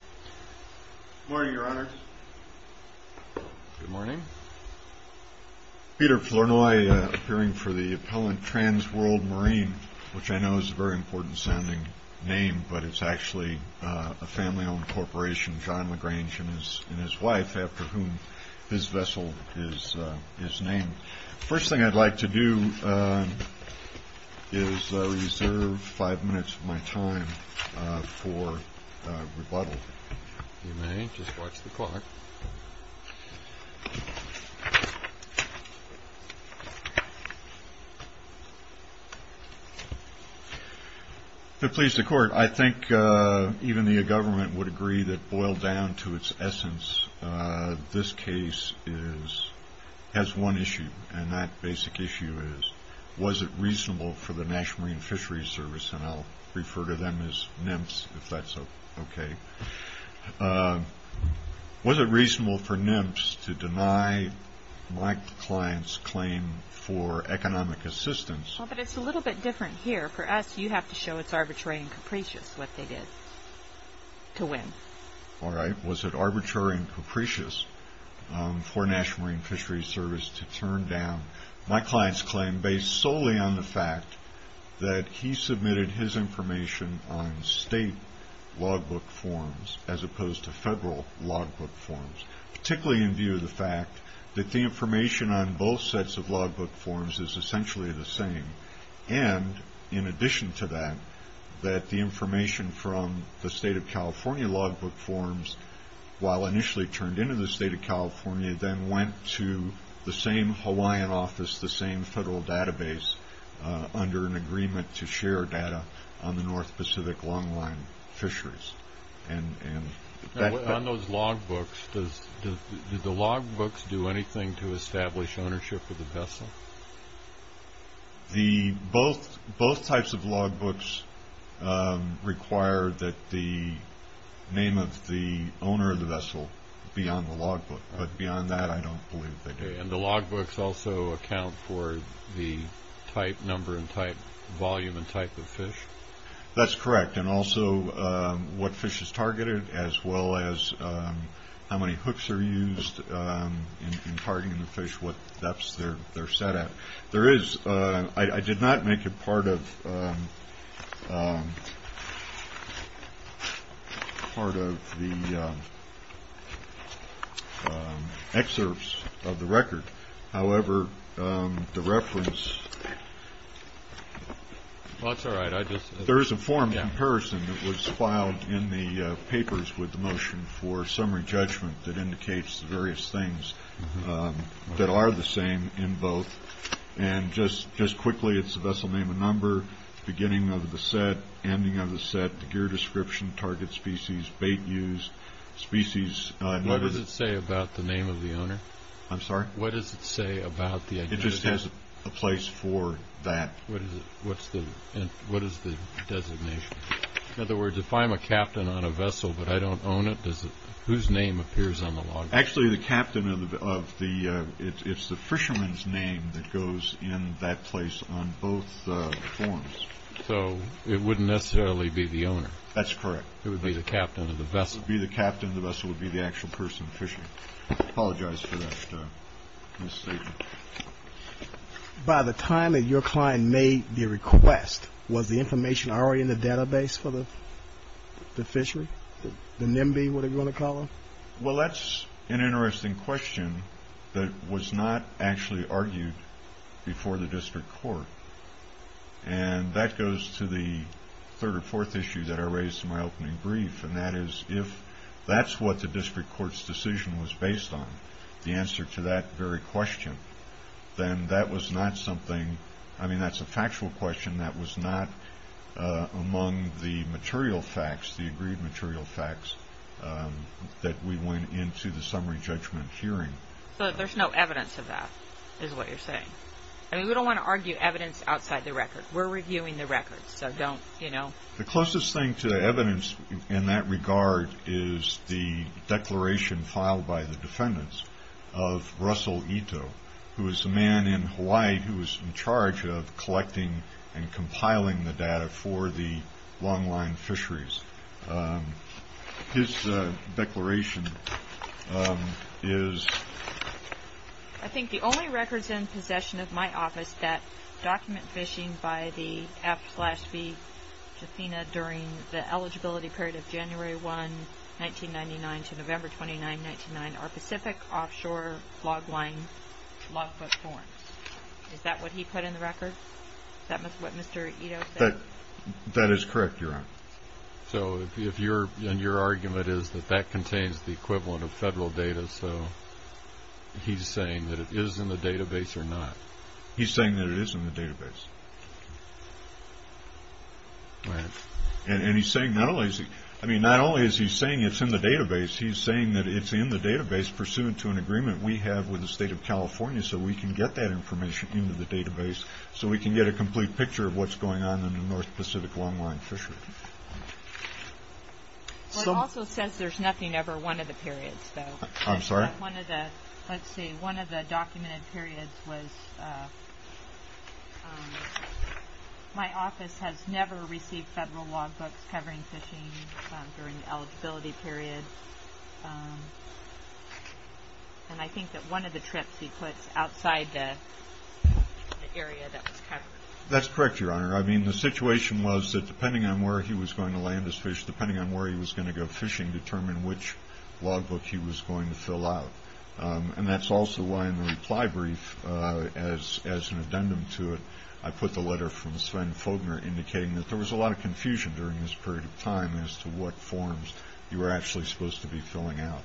Good morning, Your Honor. Good morning. Peter Flournoy, appearing for the appellant TRANS WORLD MARINE, which I know is a very important-sounding name, but it's actually a family-owned corporation, John McGrange and his wife, after whom his vessel is named. The first thing I'd like to do is reserve five minutes of my time for rebuttal, if you may. Just watch the clock. To please the Court, I think even the government would agree that, this case has one issue, and that basic issue is, was it reasonable for the National Marine Fisheries Service, and I'll refer to them as NMFS, if that's okay, was it reasonable for NMFS to deny my client's claim for economic assistance? Well, but it's a little bit different here. For us, you have to show it's arbitrary and capricious what they did to win. All right, was it arbitrary and capricious for National Marine Fisheries Service to turn down my client's claim, based solely on the fact that he submitted his information on state logbook forms, as opposed to federal logbook forms, particularly in view of the fact that the information on both sets of logbook forms is essentially the same, and in addition to that, that the information from the State of California logbook forms, while initially turned into the State of California, then went to the same Hawaiian office, the same federal database, under an agreement to share data on the North Pacific Longline Fisheries. On those logbooks, do the logbooks do anything to establish ownership of the vessel? Both types of logbooks require that the name of the owner of the vessel be on the logbook, but beyond that, I don't believe they do. And the logbooks also account for the type, number and type, volume and type of fish? That's correct. And also what fish is targeted, as well as how many hooks are used in targeting the fish, what depths they're set at. There is, I did not make it part of the excerpts of the record. However, the reference... There is a form of comparison that was filed in the papers with the motion for summary judgment that indicates the various things that are the same in both. And just quickly, it's the vessel name and number, beginning of the set, ending of the set, the gear description, target species, bait used, species... What does it say about the name of the owner? I'm sorry? What does it say about the identity? It just has a place for that. What is the designation? In other words, if I'm a captain on a vessel but I don't own it, whose name appears on the logbook? Actually, it's the fisherman's name that goes in that place on both forms. So it wouldn't necessarily be the owner? That's correct. It would be the captain of the vessel. It would be the captain of the vessel, would be the actual person fishing. I apologize for that misstatement. By the time that your client made the request, was the information already in the database for the fishery? The NIMBY, whatever you want to call it? Well, that's an interesting question that was not actually argued before the district court. And that goes to the third or fourth issue that I raised in my opening brief, and that is if that's what the district court's decision was based on, the answer to that very question, then that was not something, I mean, that's a factual question. That was not among the material facts, the agreed material facts, that we went into the summary judgment hearing. So there's no evidence of that is what you're saying? I mean, we don't want to argue evidence outside the record. We're reviewing the records, so don't, you know. The closest thing to evidence in that regard is the declaration filed by the defendants of Russell Ito, who is the man in Hawaii who was in charge of collecting and compiling the data for the longline fisheries. His declaration is... I think the only records in possession of my office that document fishing by the F slash B Tathena during the eligibility period of January 1, 1999 to November 29, 1999 are Pacific offshore longline logfoot forms. Is that what he put in the record? Is that what Mr. Ito said? That is correct, Your Honor. So if your argument is that that contains the equivalent of federal data, so he's saying that it is in the database or not? He's saying that it is in the database. All right. And he's saying not only is he saying it's in the database, he's saying that it's in the database pursuant to an agreement we have with the state of California so we can get that information into the database so we can get a complete picture of what's going on in the North Pacific longline fishery. It also says there's nothing over one of the periods, though. I'm sorry? Let's see. One of the documented periods was... My office has never received federal logbooks covering fishing during the eligibility period. And I think that one of the trips he puts outside the area that was covered. That's correct, Your Honor. I mean, the situation was that depending on where he was going to land his fish, depending on where he was going to go fishing, determine which logbook he was going to fill out. And that's also why in the reply brief, as an addendum to it, I put the letter from Sven Fogner indicating that there was a lot of confusion during this period of time as to what forms you were actually supposed to be filling out.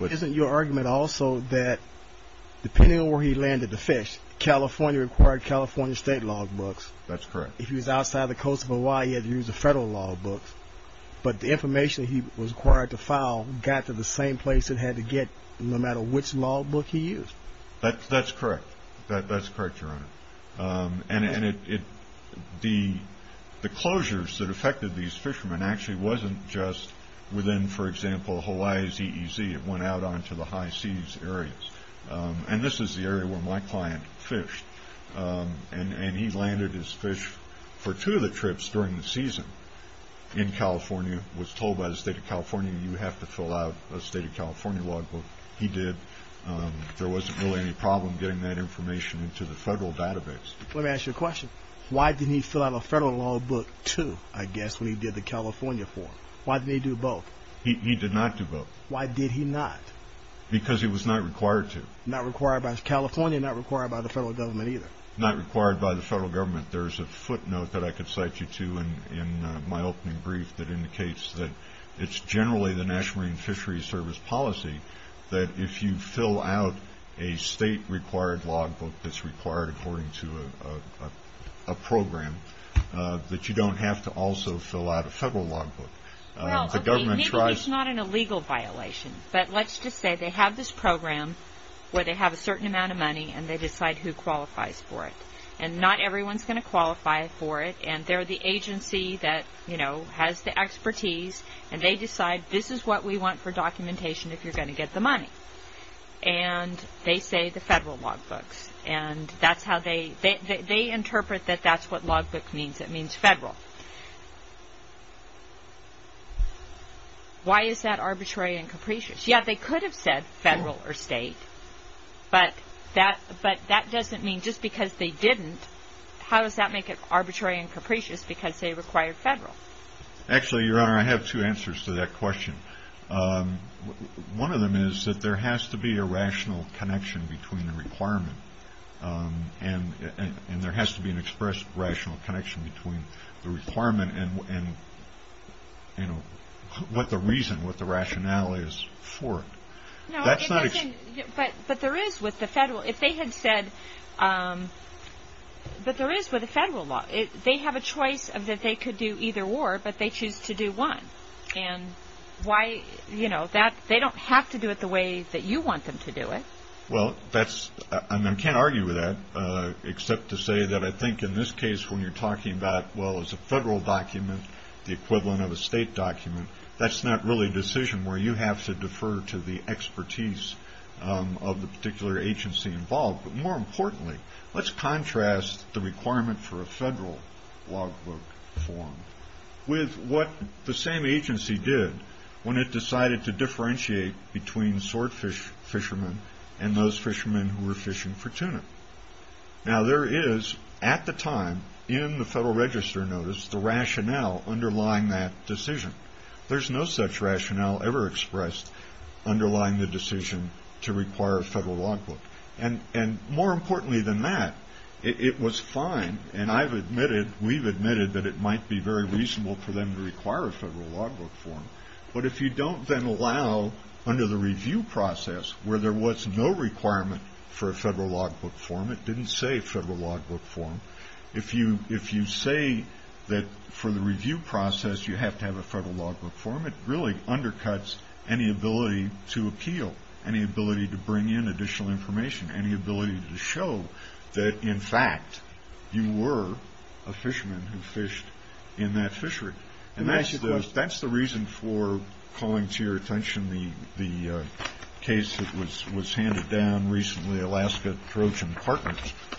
Isn't your argument also that depending on where he landed the fish, California required California state logbooks. That's correct. If he was outside the coast of Hawaii, he had to use the federal logbooks. But the information he was required to file got to the same place it had to get, no matter which logbook he used. That's correct. That's correct, Your Honor. And the closures that affected these fishermen actually wasn't just within, for example, Hawaii's EEZ. It went out onto the high seas areas. And this is the area where my client fished. And he landed his fish for two of the trips during the season in California, was told by the state of California, you have to fill out a state of California logbook. He did. There wasn't really any problem getting that information into the federal database. Let me ask you a question. Why didn't he fill out a federal logbook too, I guess, when he did the California form? Why didn't he do both? He did not do both. Why did he not? Because he was not required to. Not required by California, not required by the federal government either. Not required by the federal government. There's a footnote that I could cite you to in my opening brief that indicates that it's generally the National Marine Fisheries Service policy that if you fill out a state-required logbook that's required according to a program, that you don't have to also fill out a federal logbook. Well, I mean, maybe it's not an illegal violation. But let's just say they have this program where they have a certain amount of money and they decide who qualifies for it. And not everyone's going to qualify for it. And they're the agency that has the expertise and they decide this is what we want for documentation if you're going to get the money. And they say the federal logbooks. And that's how they interpret that that's what logbook means. It means federal. Why is that arbitrary and capricious? Yeah, they could have said federal or state. But that doesn't mean just because they didn't, how does that make it arbitrary and capricious because they required federal? Actually, Your Honor, I have two answers to that question. One of them is that there has to be a rational connection between the requirement. And there has to be an expressed rational connection between the requirement and, you know, what the reason, what the rationality is for it. But there is with the federal, if they had said, but there is with the federal law. They have a choice of that they could do either or, but they choose to do one. And why, you know, they don't have to do it the way that you want them to do it. Well, that's, I mean, I can't argue with that except to say that I think in this case when you're talking about, well, it's a federal document, the equivalent of a state document, that's not really a decision where you have to defer to the expertise of the particular agency involved. But more importantly, let's contrast the requirement for a federal logbook form with what the same agency did when it decided to differentiate between swordfish fishermen and those fishermen who were fishing for tuna. Now, there is at the time in the Federal Register notice the rationale underlying that decision. There's no such rationale ever expressed underlying the decision to require a federal logbook. And more importantly than that, it was fine. And I've admitted, we've admitted that it might be very reasonable for them to require a federal logbook form. But if you don't then allow under the review process where there was no requirement for a federal logbook form, it didn't say federal logbook form, if you say that for the review process you have to have a federal logbook form, it really undercuts any ability to appeal, any ability to bring in additional information, any ability to show that in fact you were a fisherman who fished in that fishery. And that's the reason for calling to your attention the case that was handed down recently, Alaska Trojan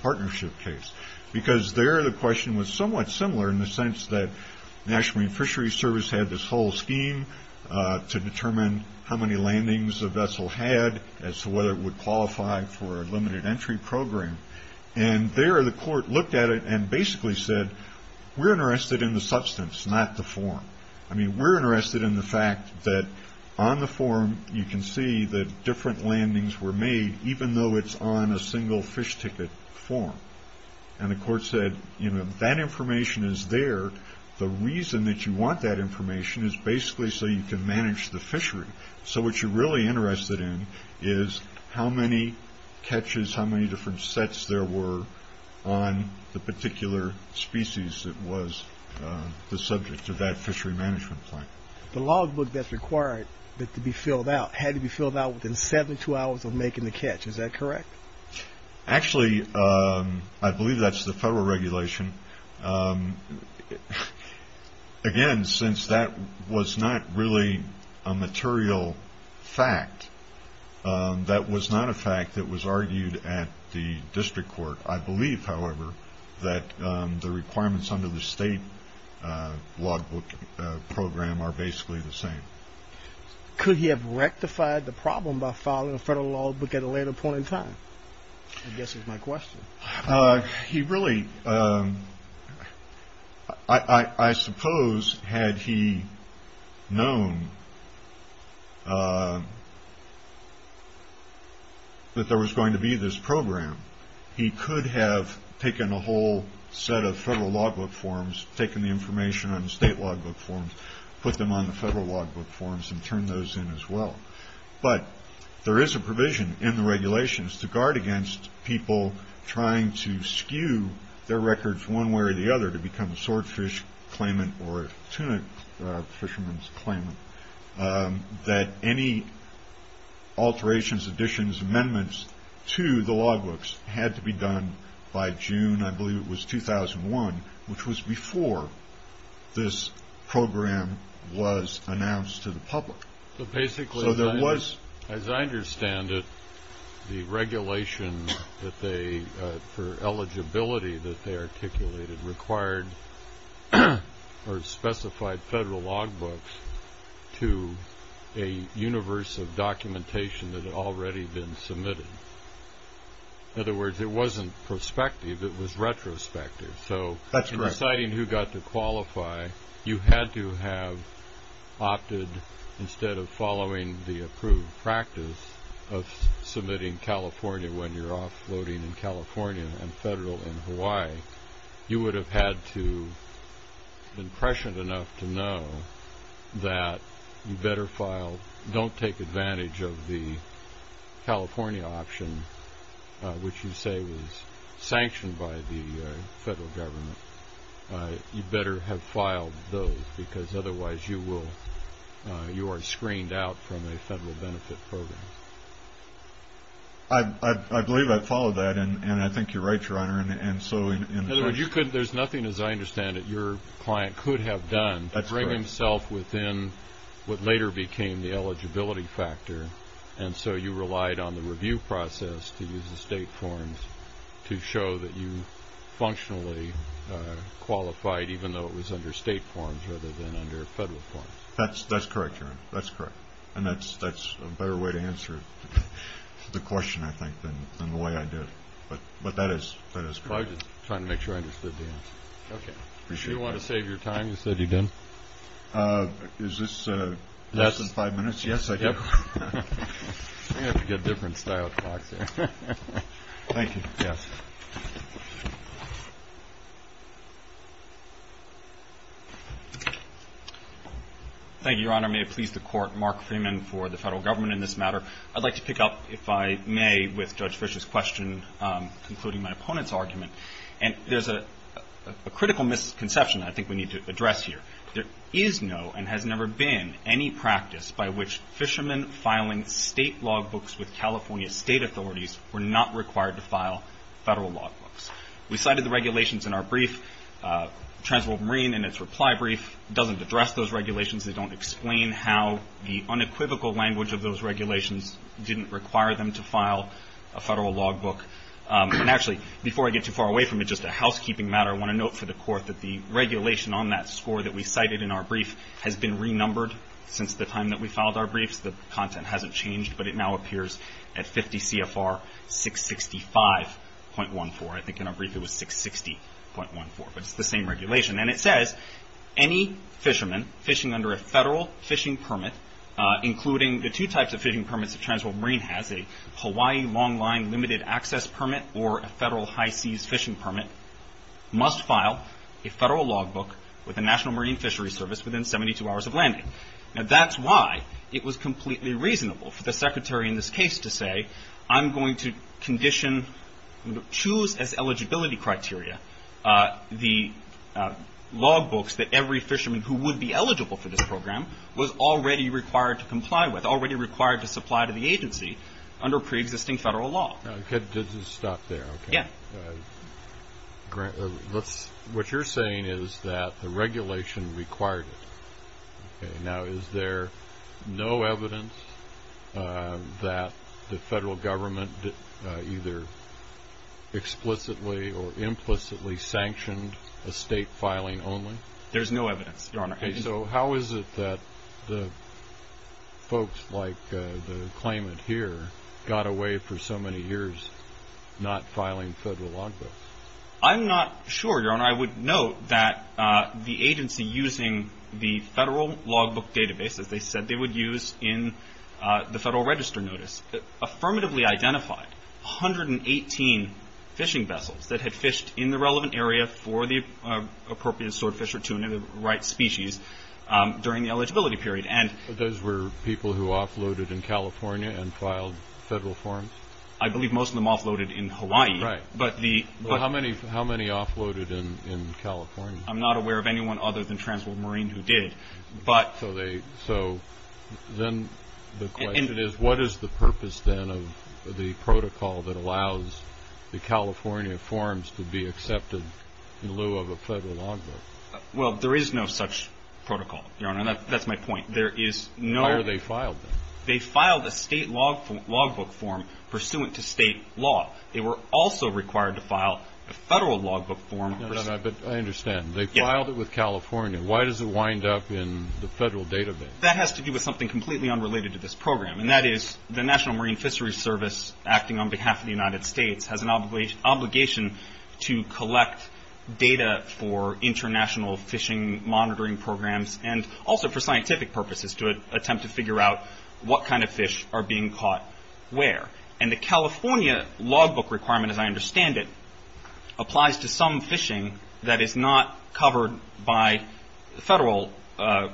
Partnership case. Because there the question was somewhat similar in the sense that National Marine Fisheries Service had this whole scheme to determine how many landings a vessel had as to whether it would qualify for a limited entry program. And there the court looked at it and basically said, we're interested in the substance, not the form. I mean, we're interested in the fact that on the form you can see that different landings were made, even though it's on a single fish ticket form. And the court said, you know, that information is there. The reason that you want that information is basically so you can manage the fishery. So what you're really interested in is how many catches, how many different sets there were on the particular species that was the subject of that fishery management plan. The logbook that's required to be filled out had to be filled out within 72 hours of making the catch. Is that correct? Actually, I believe that's the federal regulation. Again, since that was not really a material fact, that was not a fact that was argued at the district court. I believe, however, that the requirements under the state logbook program are basically the same. Could he have rectified the problem by filing a federal logbook at a later point in time? I guess is my question. He really, I suppose, had he known that there was going to be this program, he could have taken a whole set of federal logbook forms, taken the information on the state logbook forms, put them on the federal logbook forms and turn those in as well. But there is a provision in the regulations to guard against people trying to skew their records one way or the other to become a swordfish claimant or a tuna fisherman's claimant, that any alterations, additions, amendments to the logbooks had to be done by June, I believe it was 2001, which was before this program was announced to the public. So basically, as I understand it, the regulation for eligibility that they articulated required or specified federal logbooks to a universe of documentation that had already been submitted. In other words, it wasn't prospective, it was retrospective. That's correct. So in deciding who got to qualify, you had to have opted, instead of following the approved practice of submitting California when you're offloading in California and federal in Hawaii, you would have had to have been prescient enough to know that you better file, take advantage of the California option, which you say was sanctioned by the federal government. You better have filed those, because otherwise you are screened out from a federal benefit program. I believe I followed that, and I think you're right, Your Honor. In other words, there's nothing, as I understand it, your client could have done to bring himself within what later became the eligibility factor, and so you relied on the review process to use the state forms to show that you functionally qualified, even though it was under state forms rather than under federal forms. That's correct, Your Honor. That's correct. And that's a better way to answer the question, I think, than the way I did. But that is correct. I was just trying to make sure I understood the answer. Okay. If you want to save your time, you said you did. Is this less than five minutes? Yes, I did. I'm going to have to get a different style of talk here. Thank you. Yes. Thank you, Your Honor. May it please the Court, Mark Freeman for the federal government in this matter. I'd like to pick up, if I may, with Judge Fischer's question, including my opponent's argument. And there's a critical misconception I think we need to address here. There is no and has never been any practice by which fishermen filing state logbooks with California state authorities were not required to file federal logbooks. We cited the regulations in our brief. The Transworld Marine, in its reply brief, doesn't address those regulations. They don't explain how the unequivocal language of those regulations didn't require them to file a federal logbook. And actually, before I get too far away from it, just a housekeeping matter, I want to note for the Court that the regulation on that score that we cited in our brief has been renumbered since the time that we filed our briefs. The content hasn't changed, but it now appears at 50 CFR 665.14. I think in our brief it was 660.14, but it's the same regulation. And it says, any fisherman fishing under a federal fishing permit, including the two types of fishing permits the Transworld Marine has, a Hawaii longline limited access permit or a federal high seas fishing permit, must file a federal logbook with the National Marine Fisheries Service within 72 hours of landing. Now, that's why it was completely reasonable for the Secretary in this case to say, I'm going to condition, choose as eligibility criteria the logbooks that every fisherman who would be eligible for this program was already required to comply with, or was already required to supply to the agency under preexisting federal law. Let's just stop there. Yeah. What you're saying is that the regulation required it. Now, is there no evidence that the federal government either explicitly or implicitly sanctioned a state filing only? There's no evidence, Your Honor. Okay. So how is it that folks like the claimant here got away for so many years not filing federal logbooks? I'm not sure, Your Honor. I would note that the agency using the federal logbook database, as they said they would use in the federal register notice, affirmatively identified 118 fishing vessels that had fished in the relevant area for the appropriate swordfish or tuna, the right species, during the eligibility period. But those were people who offloaded in California and filed federal forms? I believe most of them offloaded in Hawaii. Right. How many offloaded in California? I'm not aware of anyone other than Transworld Marine who did. So then the question is, what is the purpose then of the protocol that allows the California forms to be accepted in lieu of a federal logbook? Well, there is no such protocol, Your Honor. That's my point. Why were they filed? They filed a state logbook form pursuant to state law. They were also required to file a federal logbook form. I understand. They filed it with California. Why does it wind up in the federal database? That has to do with something completely unrelated to this program, and that is the National Marine Fisheries Service, acting on behalf of the United States, has an obligation to collect data for international fishing monitoring programs and also for scientific purposes to attempt to figure out what kind of fish are being caught where. And the California logbook requirement, as I understand it, applies to some fishing that is not covered by federal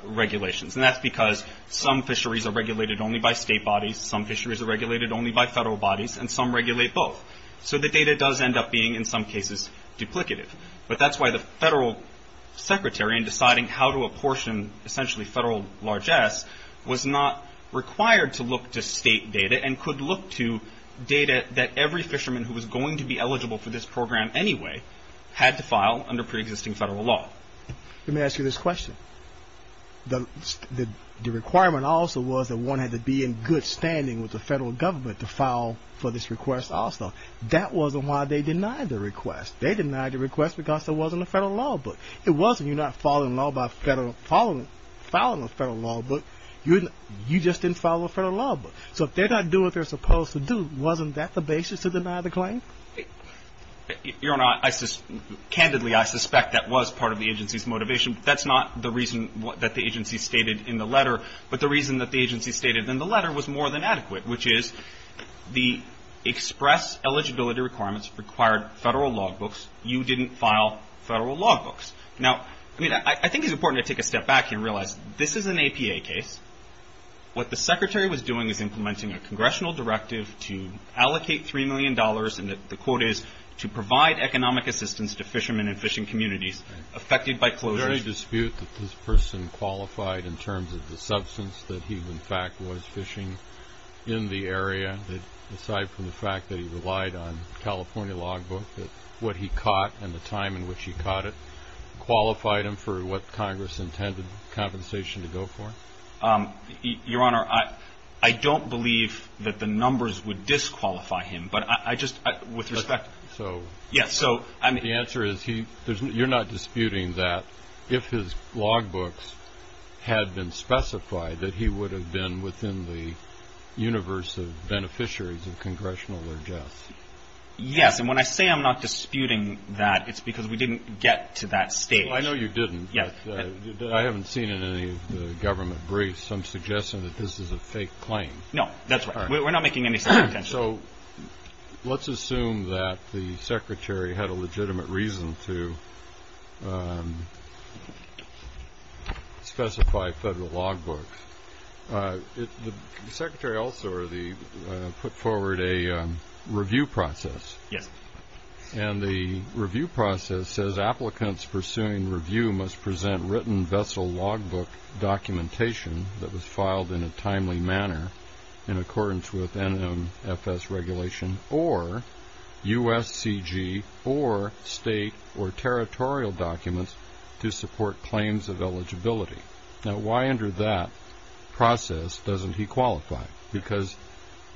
regulations. And that's because some fisheries are regulated only by state bodies, some fisheries are regulated only by federal bodies, and some regulate both. So the data does end up being, in some cases, duplicative. But that's why the federal secretary, in deciding how to apportion essentially federal largesse, was not required to look to state data and could look to data that every fisherman who was going to be eligible for this program anyway had to file under preexisting federal law. Let me ask you this question. The requirement also was that one had to be in good standing with the federal government to file for this request also. That wasn't why they denied the request. They denied the request because there wasn't a federal law book. It wasn't. You're not following a federal law book. You just didn't follow a federal law book. So if they're not doing what they're supposed to do, wasn't that the basis to deny the claim? Your Honor, candidly, I suspect that was part of the agency's motivation. That's not the reason that the agency stated in the letter. But the reason that the agency stated in the letter was more than adequate, which is the express eligibility requirements required federal law books. You didn't file federal law books. Now, I mean, I think it's important to take a step back here and realize this is an APA case. What the secretary was doing was implementing a congressional directive to allocate $3 million, and the quote is, to provide economic assistance to fishermen and fishing communities affected by closures. Is there any dispute that this person qualified in terms of the substance that he, in fact, was fishing in the area, aside from the fact that he relied on a California law book, that what he caught and the time in which he caught it qualified him for what Congress intended compensation to go for? Your Honor, I don't believe that the numbers would disqualify him, but I just, with respect. The answer is, you're not disputing that, if his law books had been specified, that he would have been within the universe of beneficiaries of congressional or death. Yes, and when I say I'm not disputing that, it's because we didn't get to that stage. I know you didn't, but I haven't seen it in any of the government briefs. I'm suggesting that this is a fake claim. No, that's right. We're not making any such claims. So let's assume that the Secretary had a legitimate reason to specify federal law books. The Secretary also put forward a review process. Yes. And the review process says, applicants pursuing review must present written vessel law book documentation that was filed in a timely manner in accordance with NMFS regulation or USCG or state or territorial documents to support claims of eligibility. Now, why under that process doesn't he qualify? Because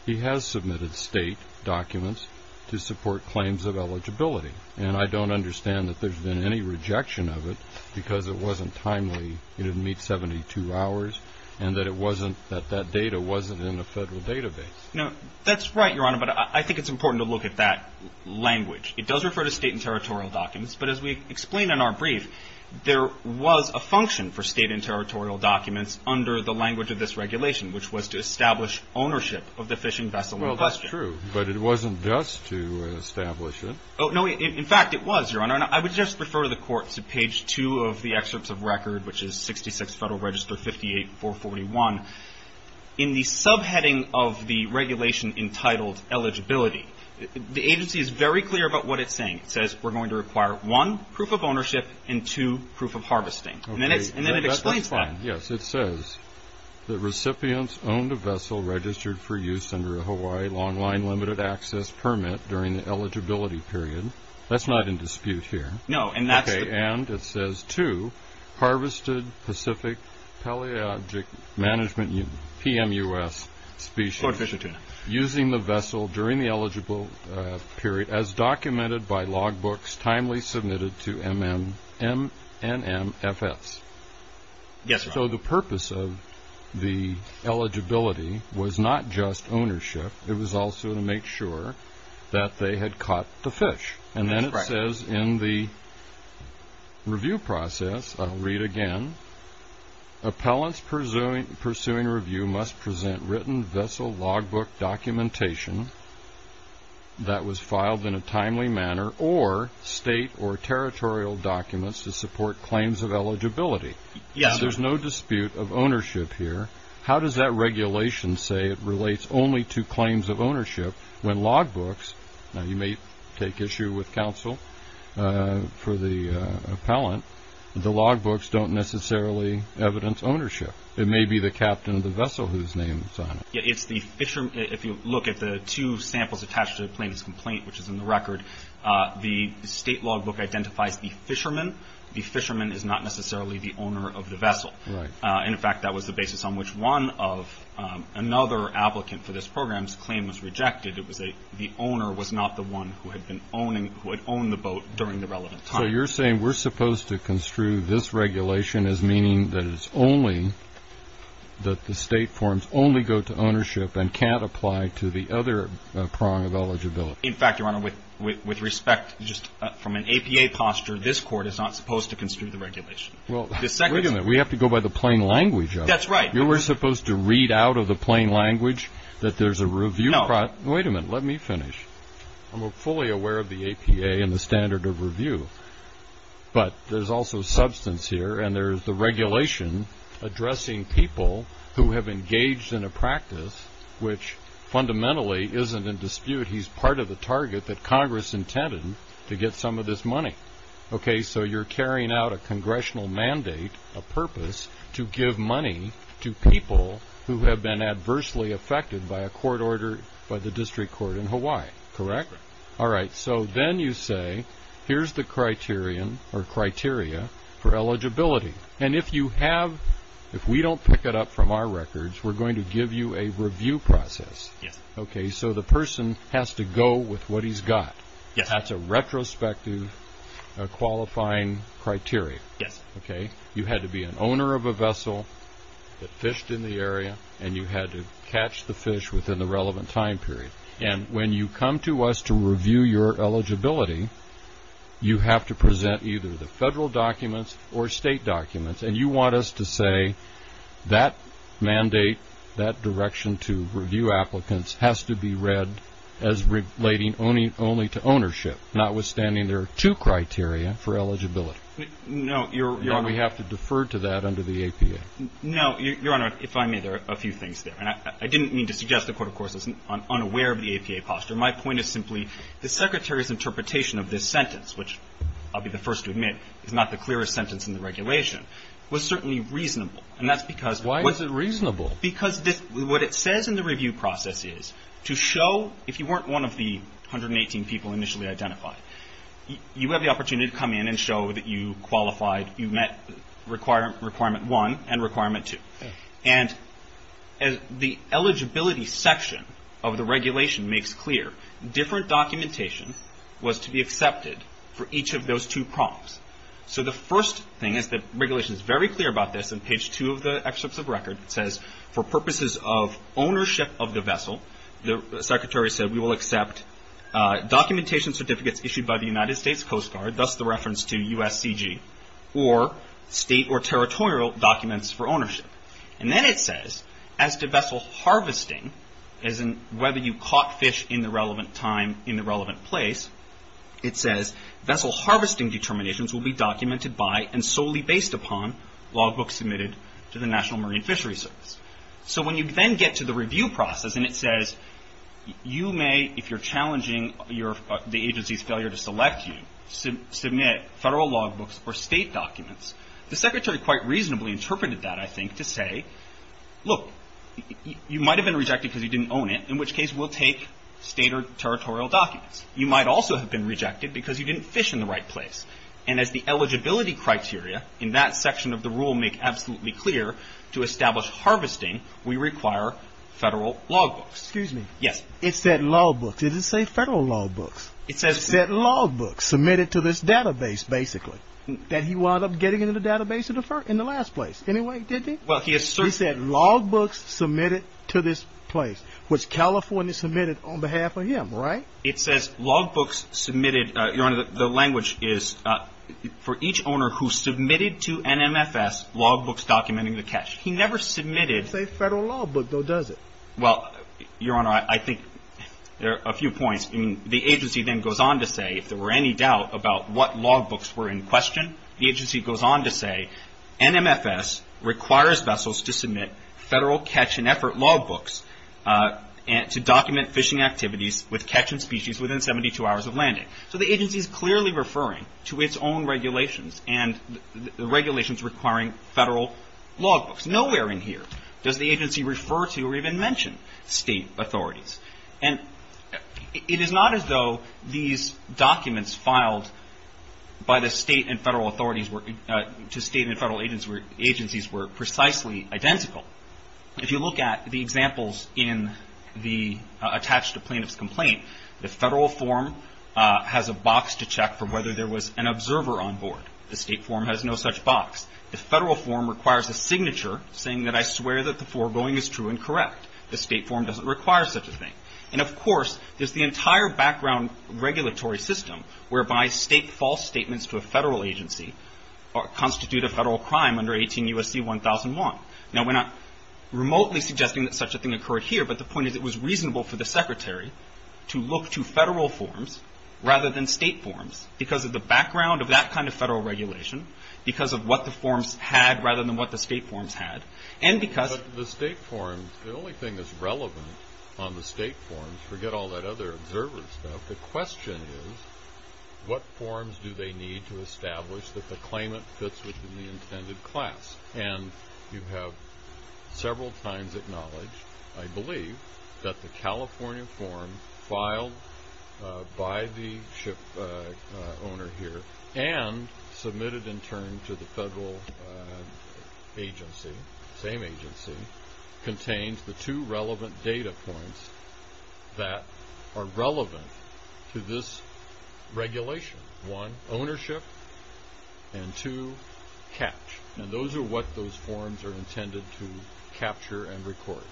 he has submitted state documents to support claims of eligibility, and I don't understand that there's been any rejection of it because it wasn't timely. It didn't meet 72 hours, and that it wasn't that that data wasn't in a federal database. No, that's right, Your Honor, but I think it's important to look at that language. It does refer to state and territorial documents, but as we explained in our brief, there was a function for state and territorial documents under the language of this regulation, which was to establish ownership of the fishing vessel in question. Well, that's true, but it wasn't just to establish it. No, in fact, it was, Your Honor. Your Honor, I would just refer the court to page 2 of the excerpts of record, which is 66 Federal Register 58441. In the subheading of the regulation entitled eligibility, the agency is very clear about what it's saying. It says we're going to require, one, proof of ownership and, two, proof of harvesting. And then it explains that. Yes, it says that recipients owned a vessel registered for use under a Hawaii long line limited access permit during the eligibility period. That's not in dispute here. No, and that's the. Okay, and it says, two, harvested Pacific Palaeontic Management PMUS species. Float fishing tuna. Using the vessel during the eligible period as documented by log books, timely submitted to MNMFS. Yes, Your Honor. So the purpose of the eligibility was not just ownership. It was also to make sure that they had caught the fish. And then it says in the review process, I'll read again. Appellants pursuing review must present written vessel log book documentation that was filed in a timely manner or state or territorial documents to support claims of eligibility. Yes, Your Honor. There's no dispute of ownership here. How does that regulation say it relates only to claims of ownership when log books? Now, you may take issue with counsel for the appellant. The log books don't necessarily evidence ownership. It may be the captain of the vessel whose name is on it. If you look at the two samples attached to the plaintiff's complaint, which is in the record, the state log book identifies the fisherman. The fisherman is not necessarily the owner of the vessel. Right. In fact, that was the basis on which one of another applicant for this program's claim was rejected. The owner was not the one who had owned the boat during the relevant time. So you're saying we're supposed to construe this regulation as meaning that it's only, that the state forms only go to ownership and can't apply to the other prong of eligibility. In fact, Your Honor, with respect, just from an APA posture, this court is not supposed to construe the regulation. Well, wait a minute. We have to go by the plain language of it. That's right. You were supposed to read out of the plain language that there's a review. Wait a minute. Let me finish. I'm fully aware of the APA and the standard of review, but there's also substance here, and there's the regulation addressing people who have engaged in a practice which fundamentally isn't in dispute. He's part of the target that Congress intended to get some of this money. Okay. So you're carrying out a congressional mandate, a purpose, to give money to people who have been adversely affected by a court order by the district court in Hawaii. Correct? Correct. All right. So then you say, here's the criterion or criteria for eligibility. And if you have, if we don't pick it up from our records, we're going to give you a review process. Yes. Okay. So the person has to go with what he's got. Yes. That's a retrospective qualifying criteria. Yes. Okay. You had to be an owner of a vessel that fished in the area, and you had to catch the fish within the relevant time period. And when you come to us to review your eligibility, you have to present either the federal documents or state documents, and you want us to say that mandate, that direction to review applicants, has to be read as relating only to ownership, notwithstanding there are two criteria for eligibility. No, Your Honor. And we have to defer to that under the APA. No. Your Honor, if I may, there are a few things there. And I didn't mean to suggest the court, of course, is unaware of the APA posture. My point is simply the Secretary's interpretation of this sentence, which I'll be the first to admit is not the clearest sentence in the regulation, was certainly reasonable. And that's because why is it reasonable? Because what it says in the review process is to show, if you weren't one of the 118 people initially identified, you have the opportunity to come in and show that you qualified, you met requirement one and requirement two. And the eligibility section of the regulation makes clear different documentation was to be accepted for each of those two prompts. So the first thing is that regulation is very clear about this. In page two of the excerpts of record, it says, for purposes of ownership of the vessel, the Secretary said, we will accept documentation certificates issued by the United States Coast Guard, thus the reference to USCG, or state or territorial documents for ownership. And then it says, as to vessel harvesting, as in whether you caught fish in the relevant time in the relevant place, it says, vessel harvesting determinations will be documented by and solely based upon logbooks submitted to the National Marine Fishery Service. So when you then get to the review process and it says, you may, if you're challenging the agency's failure to select you, submit federal logbooks or state documents, the Secretary quite reasonably interpreted that, I think, to say, look, you might have been rejected because you didn't own it, in which case we'll take state or territorial documents. You might also have been rejected because you didn't fish in the right place. And as the eligibility criteria in that section of the rule make absolutely clear, to establish harvesting, we require federal logbooks. Excuse me. Yes. It said logbooks. It didn't say federal logbooks. It says. It said logbooks submitted to this database, basically, that he wound up getting into the database in the last place anyway, didn't he? Well, he has certainly. He said logbooks submitted to this place, which California submitted on behalf of him, right? It says logbooks submitted. Your Honor, the language is, for each owner who submitted to NMFS logbooks documenting the catch. He never submitted. It doesn't say federal logbook, though, does it? Well, Your Honor, I think there are a few points. The agency then goes on to say, if there were any doubt about what logbooks were in question, the agency goes on to say, NMFS requires vessels to submit federal catch and effort logbooks to document fishing activities with catch and species within 72 hours of landing. So the agency is clearly referring to its own regulations and the regulations requiring federal logbooks. Nowhere in here does the agency refer to or even mention state authorities. And it is not as though these documents filed by the state and federal authorities were, to state and federal agencies were precisely identical. If you look at the examples in the attached to plaintiff's complaint, the federal form has a box to check for whether there was an observer on board. The state form has no such box. The federal form requires a signature saying that I swear that the foregoing is true and correct. The state form doesn't require such a thing. And, of course, there's the entire background regulatory system whereby state false statements to a federal agency constitute a federal crime under 18 U.S.C. 1001. Now, we're not remotely suggesting that such a thing occurred here, but the point is it was reasonable for the secretary to look to federal forms rather than state forms because of the background of that kind of federal regulation, because of what the forms had rather than what the state forms had, and because- But the state forms, the only thing that's relevant on the state forms, forget all that other observer stuff, the question is what forms do they need to establish that the claimant fits within the intended class? And you have several times acknowledged, I believe, that the California form filed by the ship owner here and submitted in turn to the federal agency, same agency, contains the two relevant data points that are relevant to this regulation. One, ownership, and two, catch. And those are what those forms are intended to capture and record.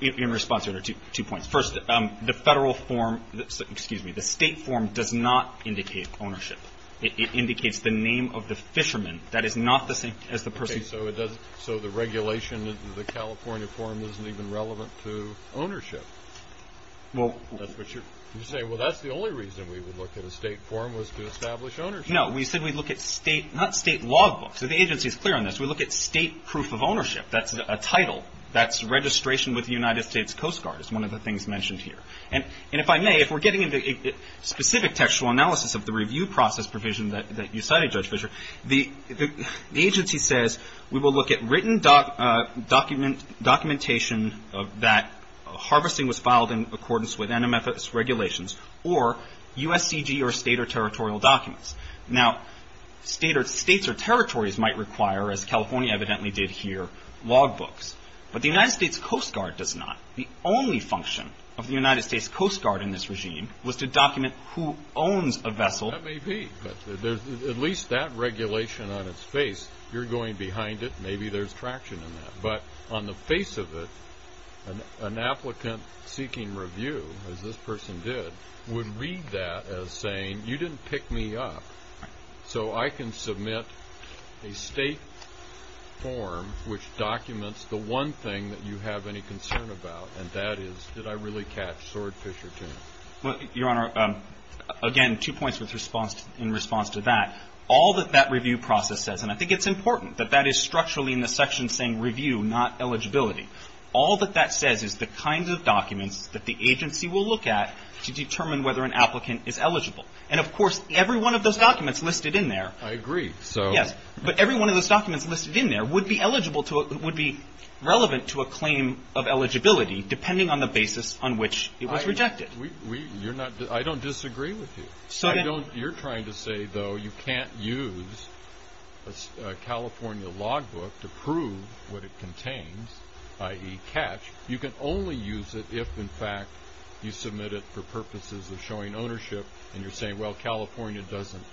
In response, there are two points. First, the federal form-excuse me, the state form does not indicate ownership. It indicates the name of the fisherman. That is not the same as the person- Okay, so it doesn't-so the regulation of the California form isn't even relevant to ownership. Well- That's what you're-you're saying, well, that's the only reason we would look at a state form was to establish ownership. No, we said we'd look at state-not state law books. So the agency is clear on this. We look at state proof of ownership. That's a title. That's registration with the United States Coast Guard is one of the things mentioned here. And if I may, if we're getting into specific textual analysis of the review process provision that you cited, Judge Fischer, the agency says we will look at written documentation that harvesting was filed in accordance with NMFS regulations or USCG or state or territorial documents. Now, states or territories might require, as California evidently did here, log books. But the United States Coast Guard does not. The only function of the United States Coast Guard in this regime was to document who owns a vessel. That may be. But there's at least that regulation on its face. You're going behind it. Maybe there's traction in that. But on the face of it, an applicant seeking review, as this person did, would read that as saying, you didn't pick me up, so I can submit a state form which documents the one thing that you have any concern about, and that is, did I really catch swordfisher to you? Your Honor, again, two points in response to that. All that that review process says, and I think it's important that that is structurally in the section saying review, not eligibility, all that that says is the kinds of documents that the agency will look at to determine whether an applicant is eligible. And, of course, every one of those documents listed in there. I agree. Yes. But every one of those documents listed in there would be eligible to, would be relevant to a claim of eligibility depending on the basis on which it was rejected. I don't disagree with you. You're trying to say, though, you can't use a California logbook to prove what it contains, i.e. catch. You can only use it if, in fact, you submit it for purposes of showing ownership, and you're saying, well, California doesn't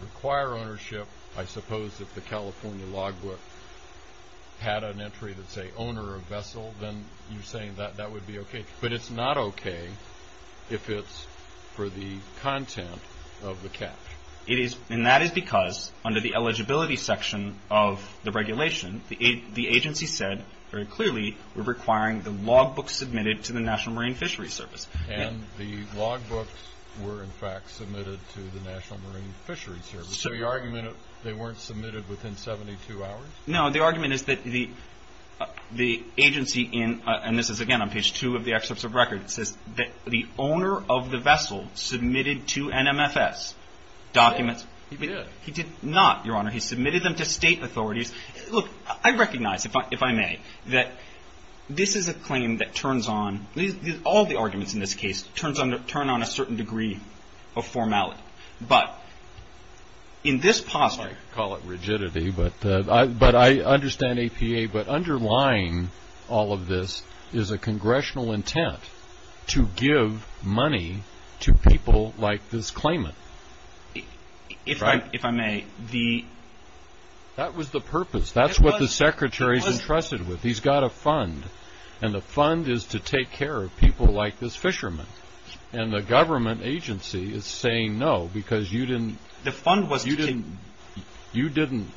require ownership. I suppose if the California logbook had an entry that said owner of vessel, then you're saying that would be okay. But it's not okay if it's for the content of the catch. It is, and that is because under the eligibility section of the regulation, the agency said very clearly we're requiring the logbook submitted to the National Marine Fisheries Service. And the logbooks were, in fact, submitted to the National Marine Fisheries Service. So the argument, they weren't submitted within 72 hours? No, the argument is that the agency in, and this is, again, on page two of the excerpts of record, it says that the owner of the vessel submitted to NMFS documents. He did. He did not, Your Honor. He submitted them to state authorities. Look, I recognize, if I may, that this is a claim that turns on, all the arguments in this case, turn on a certain degree of formality. But in this posture. I call it rigidity, but I understand APA. But underlying all of this is a congressional intent to give money to people like this claimant. If I may, the. That was the purpose. That's what the Secretary's entrusted with. He's got a fund, and the fund is to take care of people like this fisherman. And the government agency is saying no, because you didn't. The fund was. You didn't. You didn't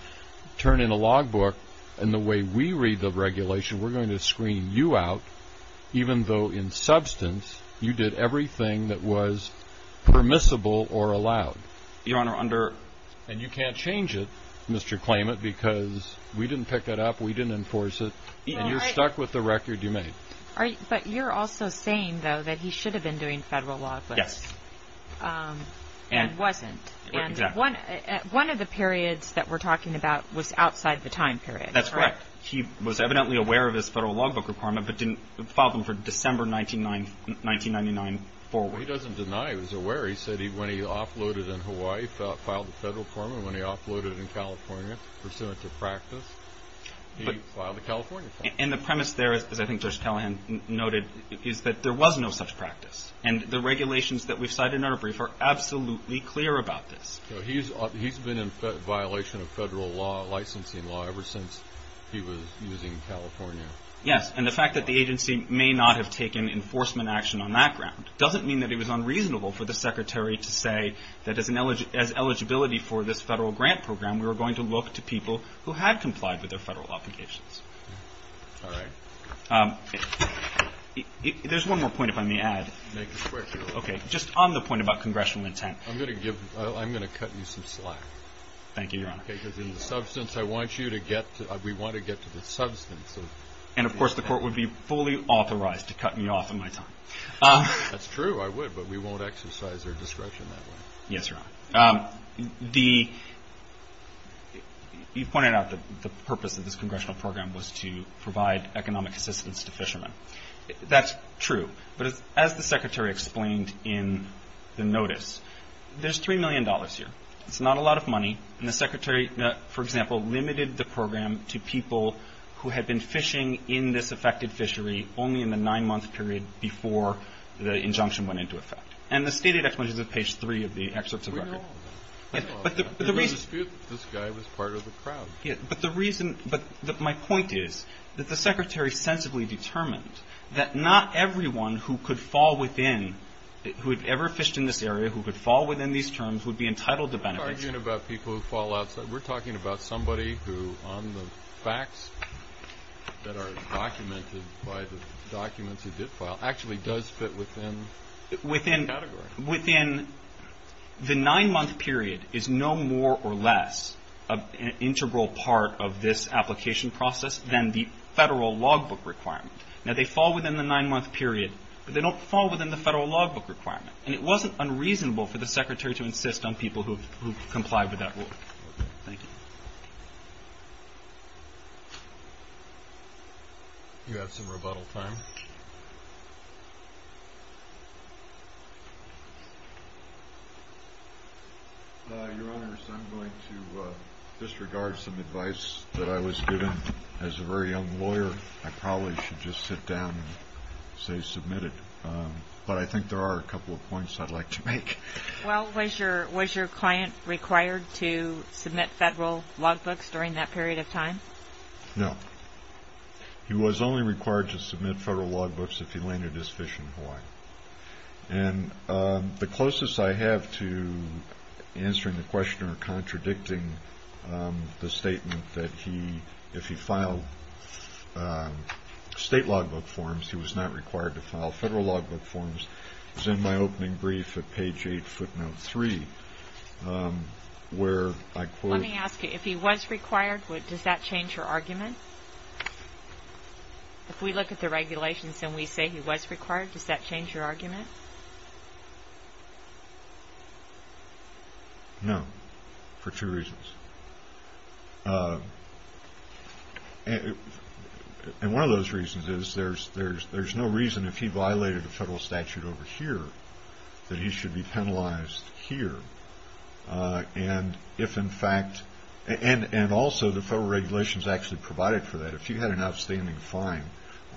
turn in a logbook, and the way we read the regulation, we're going to screen you out, even though in substance you did everything that was permissible or allowed. Your Honor, under. And you can't change it, Mr. Claimant, because we didn't pick it up, we didn't enforce it, and you're stuck with the record you made. But you're also saying, though, that he should have been doing federal logbooks. Yes. And wasn't. Exactly. And one of the periods that we're talking about was outside the time period. That's correct. He was evidently aware of his federal logbook requirement, but didn't file them for December 1999 forward. Well, he doesn't deny it. He was aware. He said when he offloaded in Hawaii, filed the federal form, and when he offloaded in California pursuant to practice, he filed the California form. And the premise there, as I think Judge Callahan noted, is that there was no such practice. And the regulations that we've cited in our brief are absolutely clear about this. So he's been in violation of federal licensing law ever since he was using California. Yes. And the fact that the agency may not have taken enforcement action on that ground doesn't mean that it was unreasonable for the Secretary to say that as eligibility for this federal grant program, we were going to look to people who had complied with their federal obligations. All right. There's one more point, if I may add. Make it quick. Okay. Just on the point about congressional intent. I'm going to cut you some slack. Thank you, Your Honor. Because in the substance, I want you to get to the substance. And, of course, the Court would be fully authorized to cut me off of my time. I would. But we won't exercise our discretion that way. Yes, Your Honor. You've pointed out that the purpose of this congressional program was to provide economic assistance to fishermen. That's true. But as the Secretary explained in the notice, there's $3 million here. It's not a lot of money. And the Secretary, for example, limited the program to people who had been fishing in this affected fishery only in the nine-month period before the injunction went into effect. And the stated explanation is on page 3 of the excerpts of the record. We know all of that. There was a dispute that this guy was part of the crowd. But the reason – but my point is that the Secretary sensibly determined that not everyone who could fall within – who had ever fished in this area, who could fall within these terms, would be entitled to benefits. We're not arguing about people who fall outside. We're talking about somebody who, on the facts that are documented by the documents he did file, actually does fit within the category. Within the nine-month period is no more or less an integral part of this application process than the federal logbook requirement. Now, they fall within the nine-month period, but they don't fall within the federal logbook requirement. And it wasn't unreasonable for the Secretary to insist on people who complied with that rule. Thank you. You have some rebuttal time. Your Honors, I'm going to disregard some advice that I was given as a very young lawyer. I probably should just sit down and say submitted. But I think there are a couple of points I'd like to make. Well, was your client required to submit federal logbooks during that period of time? No. He was only required to submit federal logbooks if he landed his fish in Hawaii. And the closest I have to answering the question or contradicting the statement that if he filed state logbook forms, he was not required to file federal logbook forms, is in my opening brief at page 8, footnote 3, where I quote. Let me ask you, if he was required, does that change your argument? If we look at the regulations and we say he was required, does that change your argument? No, for two reasons. And one of those reasons is there's no reason if he violated a federal statute over here that he should be penalized here. And also the federal regulations actually provided for that. If you had an outstanding fine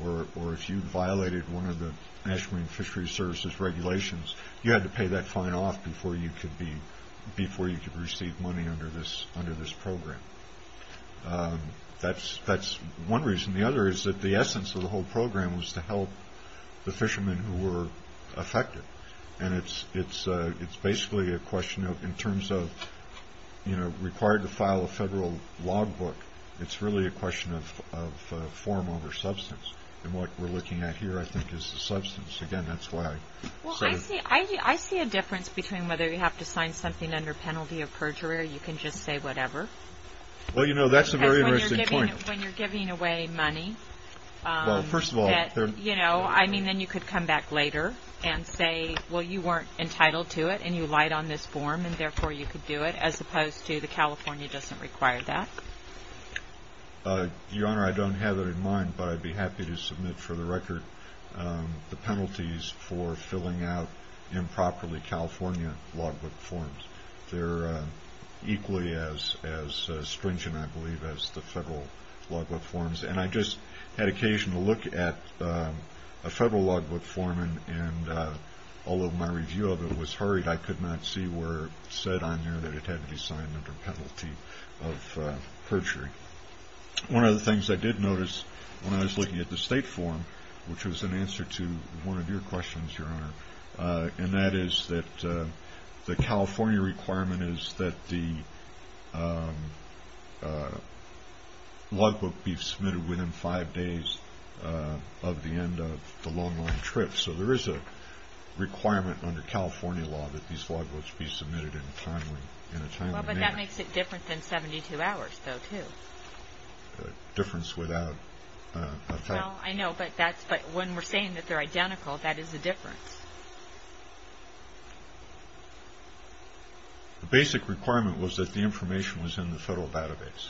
or if you violated one of the National Marine Fisheries Services regulations, you had to pay that fine off before you could receive money under this program. That's one reason. The other is that the essence of the whole program was to help the fishermen who were affected. And it's basically a question of in terms of, you know, required to file a federal logbook, it's really a question of form over substance. And what we're looking at here, I think, is the substance. Again, that's why. Well, I see a difference between whether you have to sign something under penalty of perjury or you can just say whatever. Well, you know, that's a very interesting point. Because when you're giving away money, you know, I mean, then you could come back later and say, well, you weren't entitled to it and you lied on this form, and therefore you could do it as opposed to the California doesn't require that. Your Honor, I don't have it in mind, but I'd be happy to submit for the record the penalties for filling out improperly California logbook forms. They're equally as stringent, I believe, as the federal logbook forms. And I just had occasion to look at a federal logbook form, and although my review of it was hurried, I could not see where it said on there that it had to be signed under penalty of perjury. One of the things I did notice when I was looking at the state form, which was an answer to one of your questions, Your Honor, and that is that the California requirement is that the logbook be submitted within five days of the end of the long-run trip. So there is a requirement under California law that these logbooks be submitted in a timely manner. Well, but that makes it different than 72 hours, though, too. A difference without a fact. Well, I know, but when we're saying that they're identical, that is a difference. The basic requirement was that the information was in the federal database,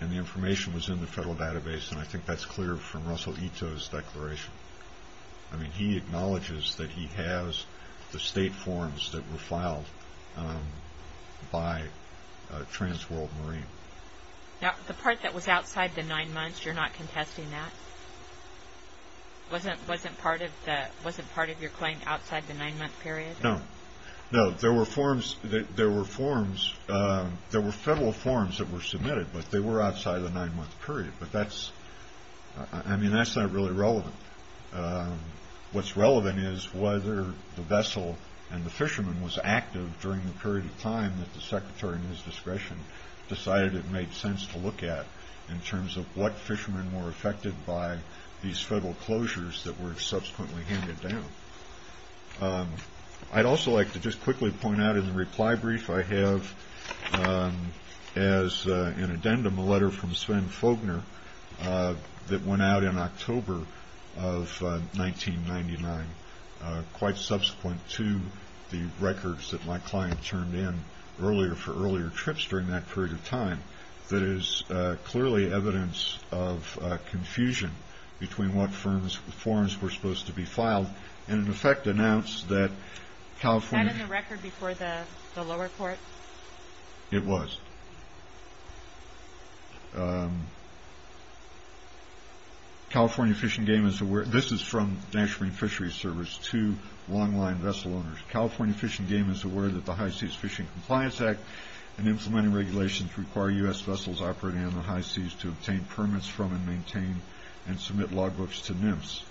and the information was in the federal database, and I think that's clear from Russell Ito's declaration. I mean, he acknowledges that he has the state forms that were filed by Trans World Marine. Now, the part that was outside the nine months, you're not contesting that? Wasn't part of your claim outside the nine-month period? No. No, there were forms, there were federal forms that were submitted, but they were outside of the nine-month period. I mean, that's not really relevant. What's relevant is whether the vessel and the fisherman was active during the period of time that the secretary and his discretion decided it made sense to look at in terms of what fishermen were affected by these federal closures that were subsequently handed down. I'd also like to just quickly point out in the reply brief I have as an addendum, a letter from Sven Fogner that went out in October of 1999, quite subsequent to the records that my client turned in for earlier trips during that period of time, that is clearly evidence of confusion between what forms were supposed to be filed and in effect announced that California... Was that in the record before the lower court? It was. California Fish and Game is aware... This is from the National Marine Fisheries Service to longline vessel owners. California Fish and Game is aware that the High Seas Fishing Compliance Act and implementing regulations require U.S. vessels operating on the high seas to obtain permits from and maintain and submit logbooks to NIMS.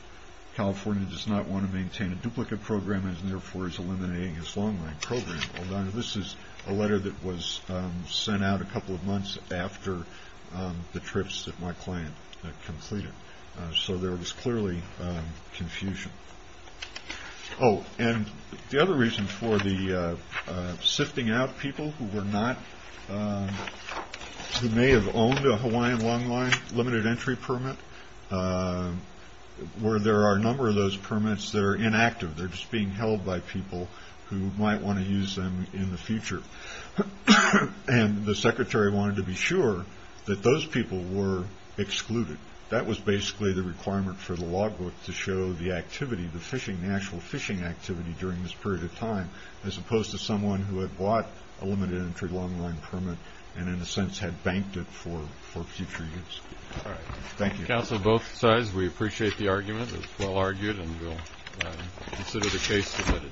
California does not want to maintain a duplicate program and therefore is eliminating its longline program. Hold on. This is a letter that was sent out a couple of months after the trips that my client completed. So there was clearly confusion. Oh, and the other reason for the sifting out people who may have owned a Hawaiian longline limited entry permit where there are a number of those permits that are inactive. They're just being held by people who might want to use them in the future. And the secretary wanted to be sure that those people were excluded. That was basically the requirement for the logbook to show the activity, the fishing, the actual fishing activity during this period of time as opposed to someone who had bought a limited entry longline permit and in a sense had banked it for future use. All right. Thank you. Counsel, both sides, we appreciate the argument. It's well argued and we'll consider the case submitted.